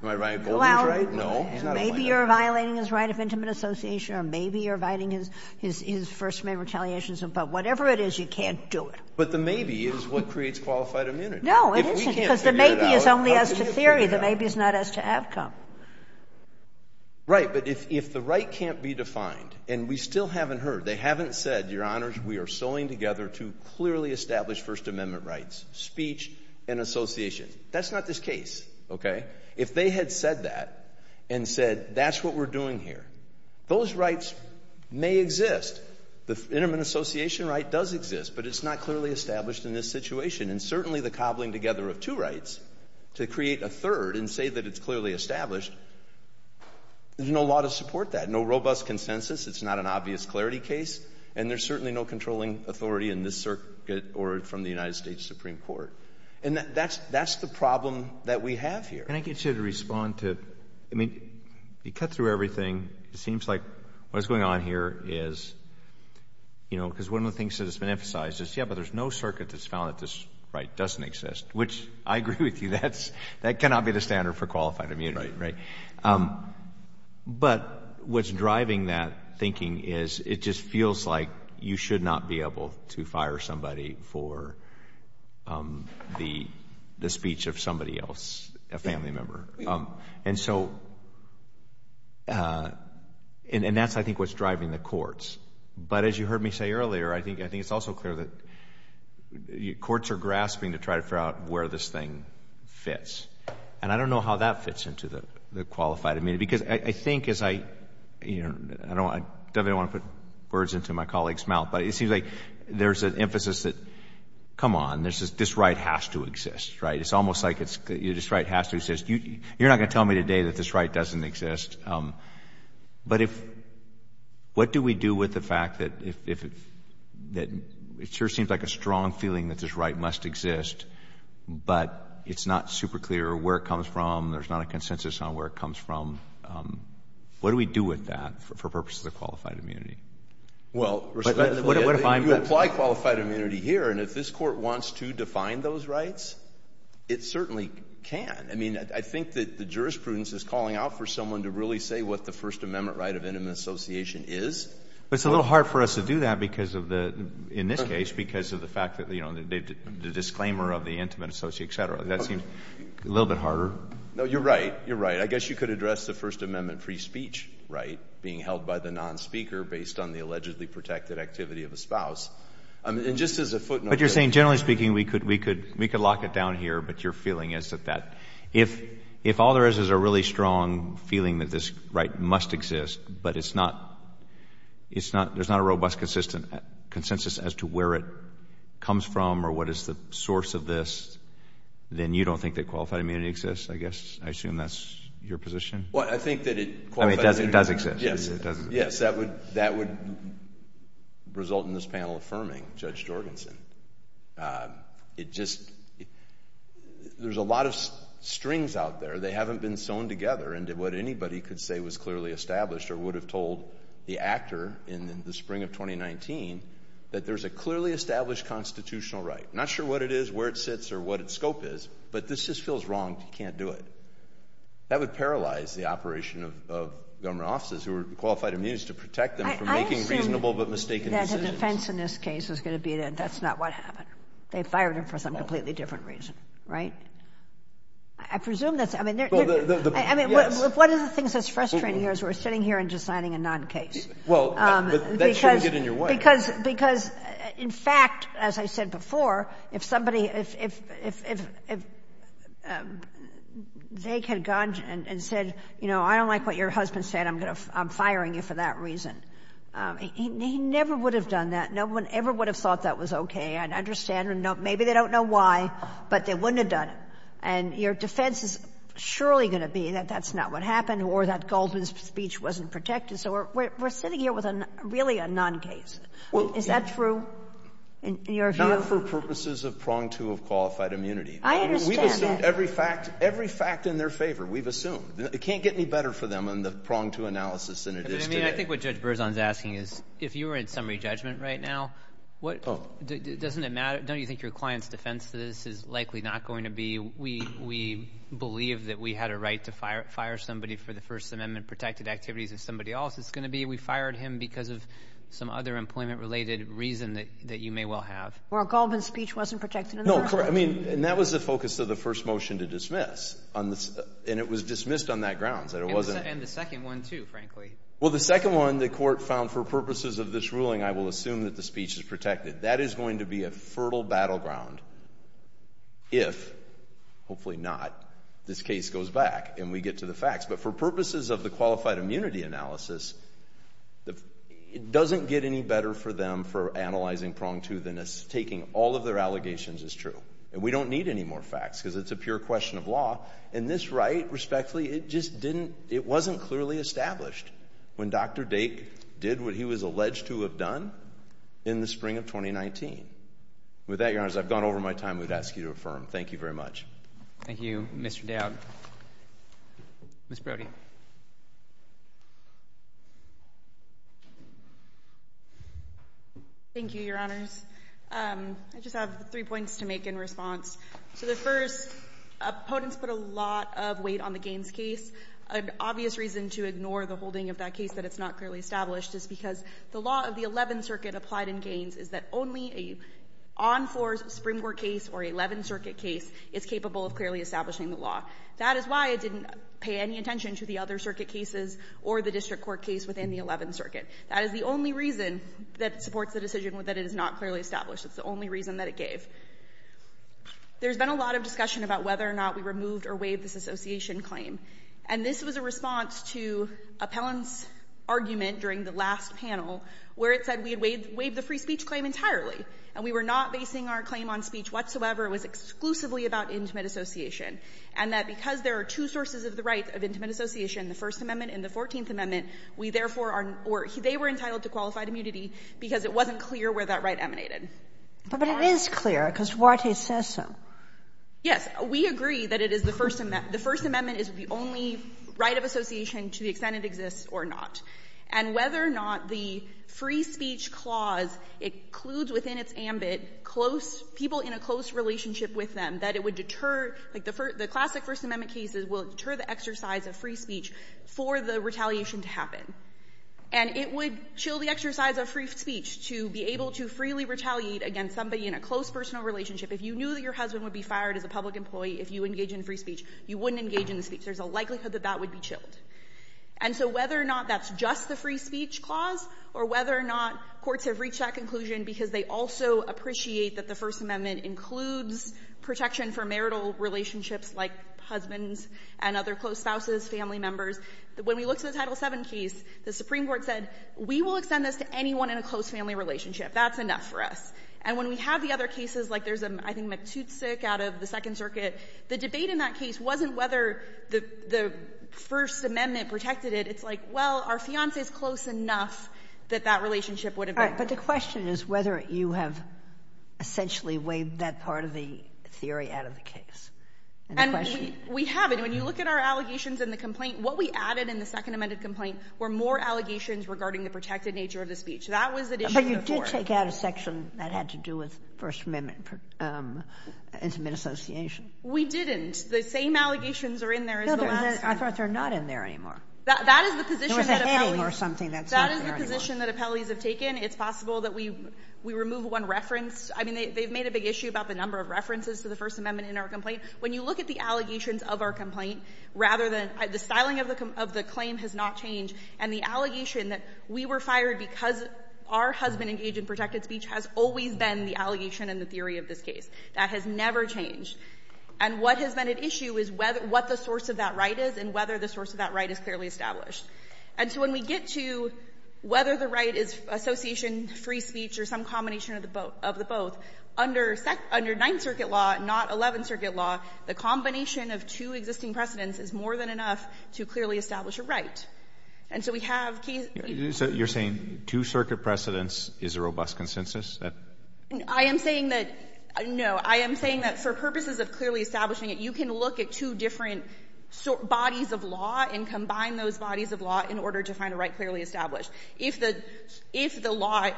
Am I violating Goldman's right? No. Maybe you're violating his right of intimate association, or maybe you're violating his first-name retaliation, but whatever it is, you can't do it. But the maybe is what creates qualified immunity. No, it isn't. Because the maybe is only as to theory. The maybe is not as to outcome. Right. But if the right can't be defined, and we still haven't heard, they haven't said, Your Honors, we are sewing together two clearly established First Amendment rights, speech and association. That's not this case, okay? If they had said that and said, that's what we're doing here, those rights may exist. The intimate association right does exist, but it's not clearly established in this situation. And certainly the cobbling together of two rights to create a third and say that it's clearly established, there's no law to support that. No robust consensus. It's not an obvious clarity case. And there's certainly no controlling authority in this circuit or from the United States Supreme Court. And that's the problem that we have here. Can I get you to respond to, I mean, you cut through everything. It seems like what's going on here is, you know, because one of the things that has been emphasized is, yeah, but there's no circuit that's found that this right doesn't exist, which I agree with you. That cannot be the standard for qualified immunity, right? But what's driving that thinking is, it just feels like you should not be able to fire somebody for the speech of somebody else, a family member. And so, and that's, I think, what's driving the courts. But as you heard me say earlier, I think it's also clear that courts are grasping to try to figure out where this thing fits. And I don't know how that fits into the qualified immunity. Because I think as I, you know, I definitely don't want to put words into my colleague's mouth, but it seems like there's an emphasis that, come on, this right has to exist, right? It's almost like this right has to exist. You're not going to tell me today that this right doesn't exist. But if, what do we do with the fact that it sure seems like a strong feeling that this right must exist, but it's not super clear where it comes from, there's not a consensus on where it comes from, what do we do with that for purposes of qualified immunity? Well, respectfully, you apply qualified immunity here, and if this Court wants to define those rights, it certainly can. I mean, I think that the jurisprudence is calling out for someone to really say what the First Amendment right of intimate association is. But it's a little hard for us to do that because of the, in this case, because of the fact that, you know, the disclaimer of the intimate associate, et cetera, that seems a little bit harder. No, you're right. You're right. I guess you could address the First Amendment free speech right being held by the nonspeaker based on the allegedly protected activity of the spouse. And just as a footnote. But you're saying, generally speaking, we could lock it down here, but your feeling is that that, if all there is is a really strong feeling that this right must exist, but it's not, it's not, there's not a robust consistent, consensus as to where it comes from or what is the source of this, then you don't think that qualified immunity exists, I guess? I assume that's your position? Well, I think that it... I mean, it does exist. Yes. It does exist. Yes. That would, that would result in this panel affirming Judge Jorgensen. It just, there's a lot of strings out there. They haven't been sewn together into what anybody could say was clearly established or would have told the actor in the spring of 2019 that there's a clearly established constitutional right. Not sure what it is, where it sits, or what its scope is. But this just feels wrong. You can't do it. That would paralyze the operation of government offices who are qualified immunities to protect them from making reasonable but mistaken decisions. I assume that the defense in this case is going to be that that's not what happened. They fired him for some completely different reason, right? I presume that's... Well, the... I mean... Yes. One of the things that's frustrating here is we're sitting here and deciding a non-case. Well, that shouldn't get in your way. Because, in fact, as I said before, if somebody, if they had gone and said, you know, I don't like what your husband said, I'm firing you for that reason, he never would have done that. No one ever would have thought that was okay. And understand, maybe they don't know why, but they wouldn't have done it. And your defense is surely going to be that that's not what happened or that Goldman's speech wasn't protected. So we're sitting here with really a non-case. Well... Is that true in your view? Not for purposes of prong to a qualified immunity. I understand that. We've assumed every fact in their favor. We've assumed. It can't get any better for them in the prong to analysis than it is today. I think what Judge Berzon is asking is, if you were in summary judgment right now, what... Doesn't it matter? Don't you think your client's defense to this is likely not going to be, we believe that we had a right to fire somebody for the First Amendment-protected activities of somebody else? It's going to be, we fired him because of some other employment-related reason that you may well have. Or a Goldman's speech wasn't protected in the first place. No, correct. I mean, and that was the focus of the first motion to dismiss. And it was dismissed on that grounds, that it wasn't... And the second one, too, frankly. Well, the second one, the Court found for purposes of this ruling, I will assume that the speech is protected. That is going to be a fertile battleground if, hopefully not, this case goes back and we get to the facts. But for purposes of the qualified immunity analysis, it doesn't get any better for them for analyzing prong to than taking all of their allegations as true. And we don't need any more facts because it's a pure question of law. And this right, respectfully, it just didn't... it wasn't clearly established. When Dr. Dake did what he was alleged to have done in the spring of 2019. With that, Your Honors, I've gone over my time. We'd ask you to affirm. Thank you very much. Thank you, Mr. Dowd. Ms. Brody. Thank you, Your Honors. I just have three points to make in response. So the first, opponents put a lot of weight on the Gaines case. An obvious reason to ignore the holding of that case that it's not clearly established is because the law of the Eleventh Circuit applied in Gaines is that only an on-floor Supreme Court case or Eleventh Circuit case is capable of clearly establishing the law. That is why it didn't pay any attention to the other circuit cases or the district court case within the Eleventh Circuit. That is the only reason that supports the decision that it is not clearly established. It's the only reason that it gave. There's been a lot of discussion about whether or not we removed or waived this association claim. And this was a response to appellant's argument during the last panel where it said we had waived the free speech claim entirely. And we were not basing our claim on speech whatsoever. It was exclusively about intimate association. And that because there are two sources of the right of intimate association, the First Amendment and the Fourteenth Amendment, we therefore are or they were entitled to qualified immunity because it wasn't clear where that right emanated. But it is clear because Warte says so. Yes. We agree that it is the First Amendment. The First Amendment is the only right of association to the extent it exists or not. And whether or not the free speech clause includes within its ambit close people in a close relationship with them, that it would deter, like the classic First Amendment cases will deter the exercise of free speech for the retaliation to happen. And it would chill the exercise of free speech to be able to freely retaliate against somebody in a close personal relationship. If you knew that your husband would be fired as a public employee if you engage in free speech, you wouldn't engage in the speech. There's a likelihood that that would be chilled. And so whether or not that's just the free speech clause or whether or not courts have reached that conclusion because they also appreciate that the First Amendment includes protection for marital relationships like husbands and other close spouses, family members, when we look to the Title VII case, the Supreme Court said we will extend this to anyone in a close family relationship. That's enough for us. And when we have the other cases, like there's, I think, McTutick out of the Second Circuit, the debate in that case wasn't whether the First Amendment protected it. It's like, well, our fiancé is close enough that that relationship would have been. But the question is whether you have essentially waived that part of the theory out of the case. And the question — And we haven't. When you look at our allegations in the complaint, what we added in the Second Amendment complaint were more allegations regarding the protected nature of the speech. That was an issue before. Did you take out a section that had to do with First Amendment intimate association? We didn't. The same allegations are in there as the last — I thought they're not in there anymore. That is the position that appellees — There was a heading or something that's not there anymore. That is the position that appellees have taken. It's possible that we remove one reference. I mean, they've made a big issue about the number of references to the First Amendment in our complaint. When you look at the allegations of our complaint, the styling of the claim has not changed, and the allegation that we were fired because our husband engaged in protected speech has always been the allegation in the theory of this case. That has never changed. And what has been at issue is what the source of that right is and whether the source of that right is clearly established. And so when we get to whether the right is association, free speech, or some combination of the both, under Ninth Circuit law, not Eleventh Circuit law, the combination of two existing precedents is more than enough to clearly establish a right. And so we have — So you're saying two circuit precedents is a robust consensus? I am saying that — no, I am saying that for purposes of clearly establishing it, you can look at two different bodies of law and combine those bodies of law in order to find a right clearly established. If the law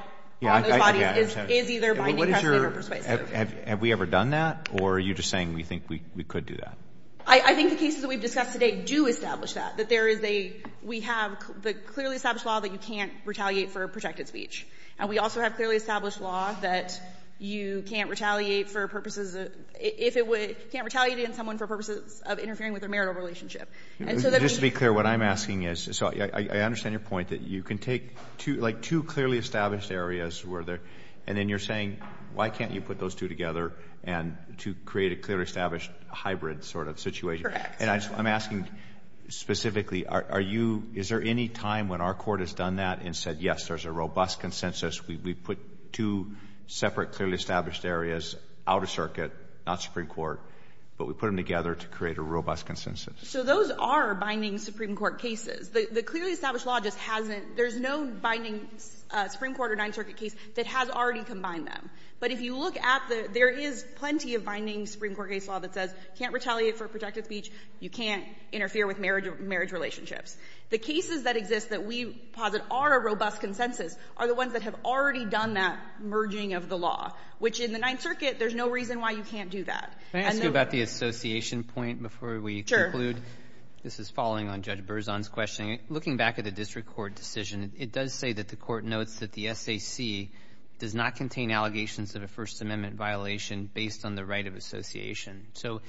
on those bodies is either binding precedent or persuasive. Have we ever done that, or are you just saying we think we could do that? I think the cases that we've discussed today do establish that, that there is a — we have the clearly established law that you can't retaliate for protected speech. And we also have clearly established law that you can't retaliate for purposes of — if it would — you can't retaliate against someone for purposes of interfering with their marital relationship. And so that means — Just to be clear, what I'm asking is — so I understand your point, that you can take, like, two clearly established areas where there — and then you're saying why can't you put those two together and — to create a clearly established hybrid sort of situation? And I'm asking specifically, are you — is there any time when our Court has done that and said, yes, there's a robust consensus, we put two separate clearly established areas out of circuit, not Supreme Court, but we put them together to create a robust consensus? So those are binding Supreme Court cases. The clearly established law just hasn't — there's no binding Supreme Court or Ninth Circuit law. But if you look at the — there is plenty of binding Supreme Court case law that says you can't retaliate for protected speech, you can't interfere with marriage relationships. The cases that exist that we posit are a robust consensus are the ones that have already done that merging of the law, which in the Ninth Circuit, there's no reason why you can't do that. And then — Can I ask you about the association point before we conclude? This is following on Judge Berzon's question. Looking back at the district court decision, it does say that the Court notes that the SAC does not contain allegations of a First Amendment violation based on the right of association. So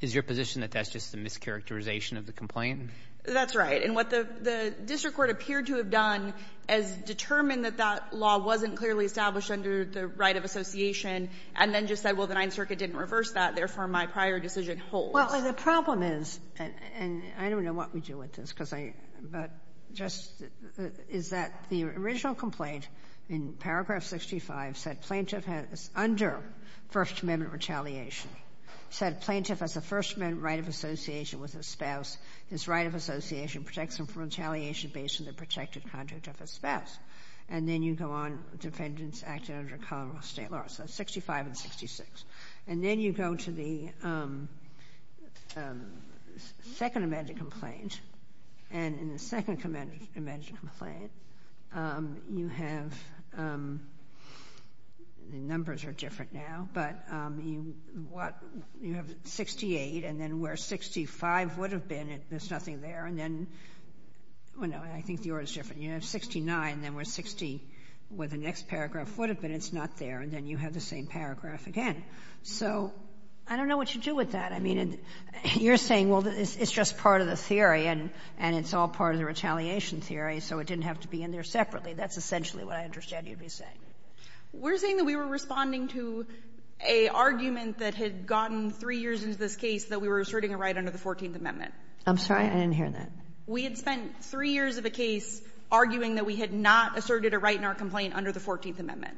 is your position that that's just a mischaracterization of the complaint? That's right. And what the district court appeared to have done is determined that that law wasn't clearly established under the right of association and then just said, well, the Ninth Circuit didn't reverse that, therefore, my prior decision holds. Well, the problem is — and I don't know what we do with this because I — but just the problem is that the original complaint in paragraph 65 said plaintiff is under First Amendment retaliation. It said plaintiff has a First Amendment right of association with his spouse. His right of association protects him from retaliation based on the protected conduct of his spouse. And then you go on, defendants acted under Colorado State law. So it's 65 and 66. And then you go to the Second Amendment complaint. And in the Second Amendment complaint, you have — the numbers are different now, but you have 68, and then where 65 would have been, there's nothing there. And then — well, no, I think yours is different. You have 69, and then where the next paragraph would have been, it's not there. And then you have the same paragraph again. So I don't know what you do with that. I mean, you're saying, well, it's just part of the theory, and it's all part of the retaliation theory, so it didn't have to be in there separately. That's essentially what I understand you'd be saying. We're saying that we were responding to a argument that had gotten three years into this case that we were asserting a right under the 14th Amendment. I'm sorry. I didn't hear that. We had spent three years of a case arguing that we had not asserted a right in our complaint under the 14th Amendment.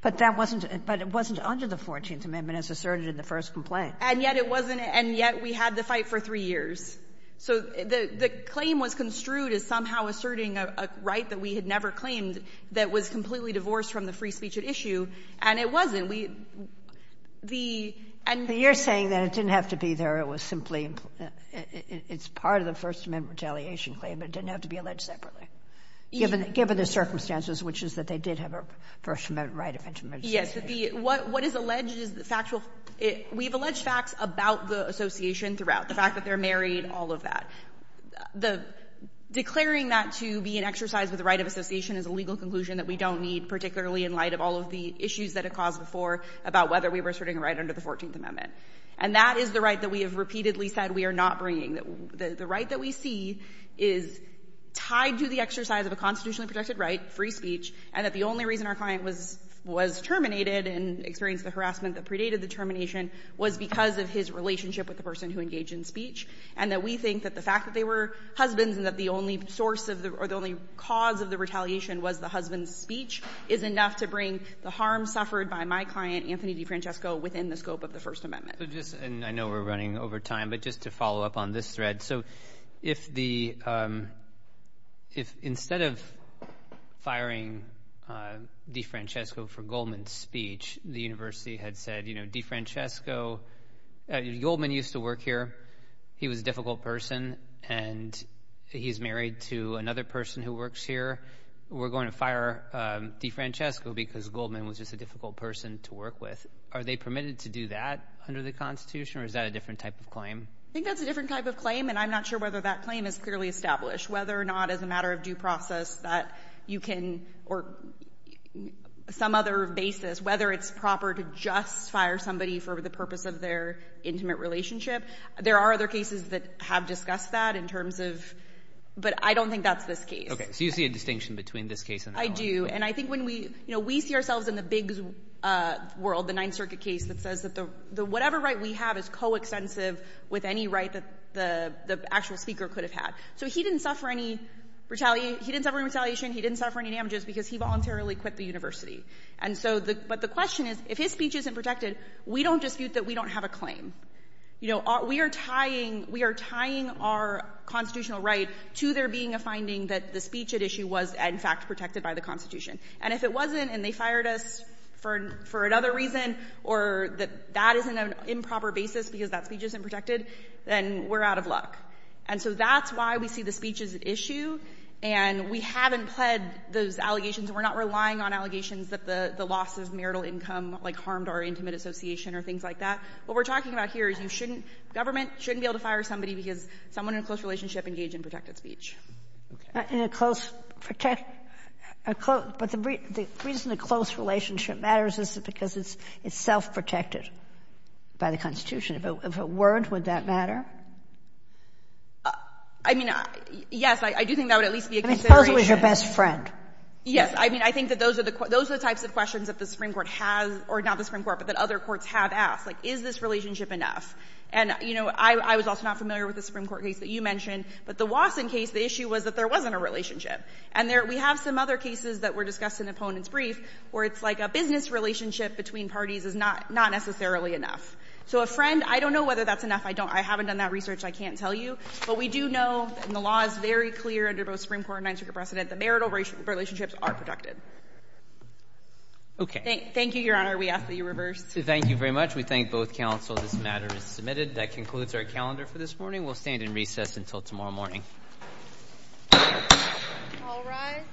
But that wasn't — but it wasn't under the 14th Amendment as asserted in the first complaint. And yet it wasn't — and yet we had the fight for three years. So the claim was construed as somehow asserting a right that we had never claimed that was completely divorced from the free speech at issue, and it wasn't. We — the — But you're saying that it didn't have to be there. It was simply — it's part of the First Amendment retaliation claim. It didn't have to be alleged separately, given the circumstances, which is that they did have a First Amendment right of interment. Yes. The — what is alleged is the factual — we have alleged facts about the association throughout, the fact that they're married, all of that. The — declaring that to be an exercise of the right of association is a legal conclusion that we don't need, particularly in light of all of the issues that it caused before about whether we were asserting a right under the 14th Amendment. And that is the right that we have repeatedly said we are not bringing. The right that we see is tied to the exercise of a constitutionally protected right, free speech, and that the only reason our client was — was terminated and experienced the harassment that predated the termination was because of his relationship with the person who engaged in speech, and that we think that the fact that they were husbands and that the only source of the — or the only cause of the retaliation was the husband's speech is enough to bring the harm suffered by my client, Anthony DeFrancesco, within the scope of the First Amendment. So just — and I know we're running over time, but just to follow up on this thread. So if the — if instead of firing DeFrancesco for Goldman's speech, the university had said, you know, DeFrancesco — Goldman used to work here. He was a difficult person, and he's married to another person who works here. We're going to fire DeFrancesco because Goldman was just a difficult person to work with. Are they permitted to do that under the Constitution, or is that a different type of claim? I think that's a different type of claim, and I'm not sure whether that claim is clearly established, whether or not as a matter of due process that you can — or some other basis, whether it's proper to just fire somebody for the purpose of their intimate relationship. There are other cases that have discussed that in terms of — but I don't think that's this case. Okay. So you see a distinction between this case and that one? I do, and I think when we — you know, we see ourselves in the big world, the Ninth with any right that the actual speaker could have had. So he didn't suffer any retaliation — he didn't suffer any retaliation, he didn't suffer any damages because he voluntarily quit the university. And so the — but the question is, if his speech isn't protected, we don't dispute that we don't have a claim. You know, we are tying — we are tying our constitutional right to there being a finding that the speech at issue was, in fact, protected by the Constitution. And if it wasn't, and they fired us for another reason, or that that is an improper basis because that speech isn't protected, then we're out of luck. And so that's why we see the speech as at issue, and we haven't pled those allegations. We're not relying on allegations that the loss of marital income, like, harmed our intimate association or things like that. What we're talking about here is you shouldn't — government shouldn't be able to fire somebody because someone in a close relationship engaged in protected speech. Okay. In a close — but the reason a close relationship matters is because it's self-protected by the Constitution. If it weren't, would that matter? I mean, yes. I do think that would at least be a consideration. I suppose it was your best friend. Yes. I mean, I think that those are the — those are the types of questions that the Supreme Court has — or not the Supreme Court, but that other courts have asked. Like, is this relationship enough? And, you know, I was also not familiar with the Supreme Court case that you mentioned, but the Watson case, the issue was that there wasn't a relationship. And there — we have some other cases that were discussed in the opponent's brief where it's like a business relationship between parties is not necessarily enough. So a friend — I don't know whether that's enough. I don't — I haven't done that research. I can't tell you. But we do know, and the law is very clear under both Supreme Court and Ninth Circuit precedent, that marital relationships are protected. Okay. Thank you, Your Honor. We ask that you reverse. Thank you very much. We thank both counsel. This matter is submitted. That concludes our calendar for this morning. We'll stand in recess until tomorrow morning. All rise.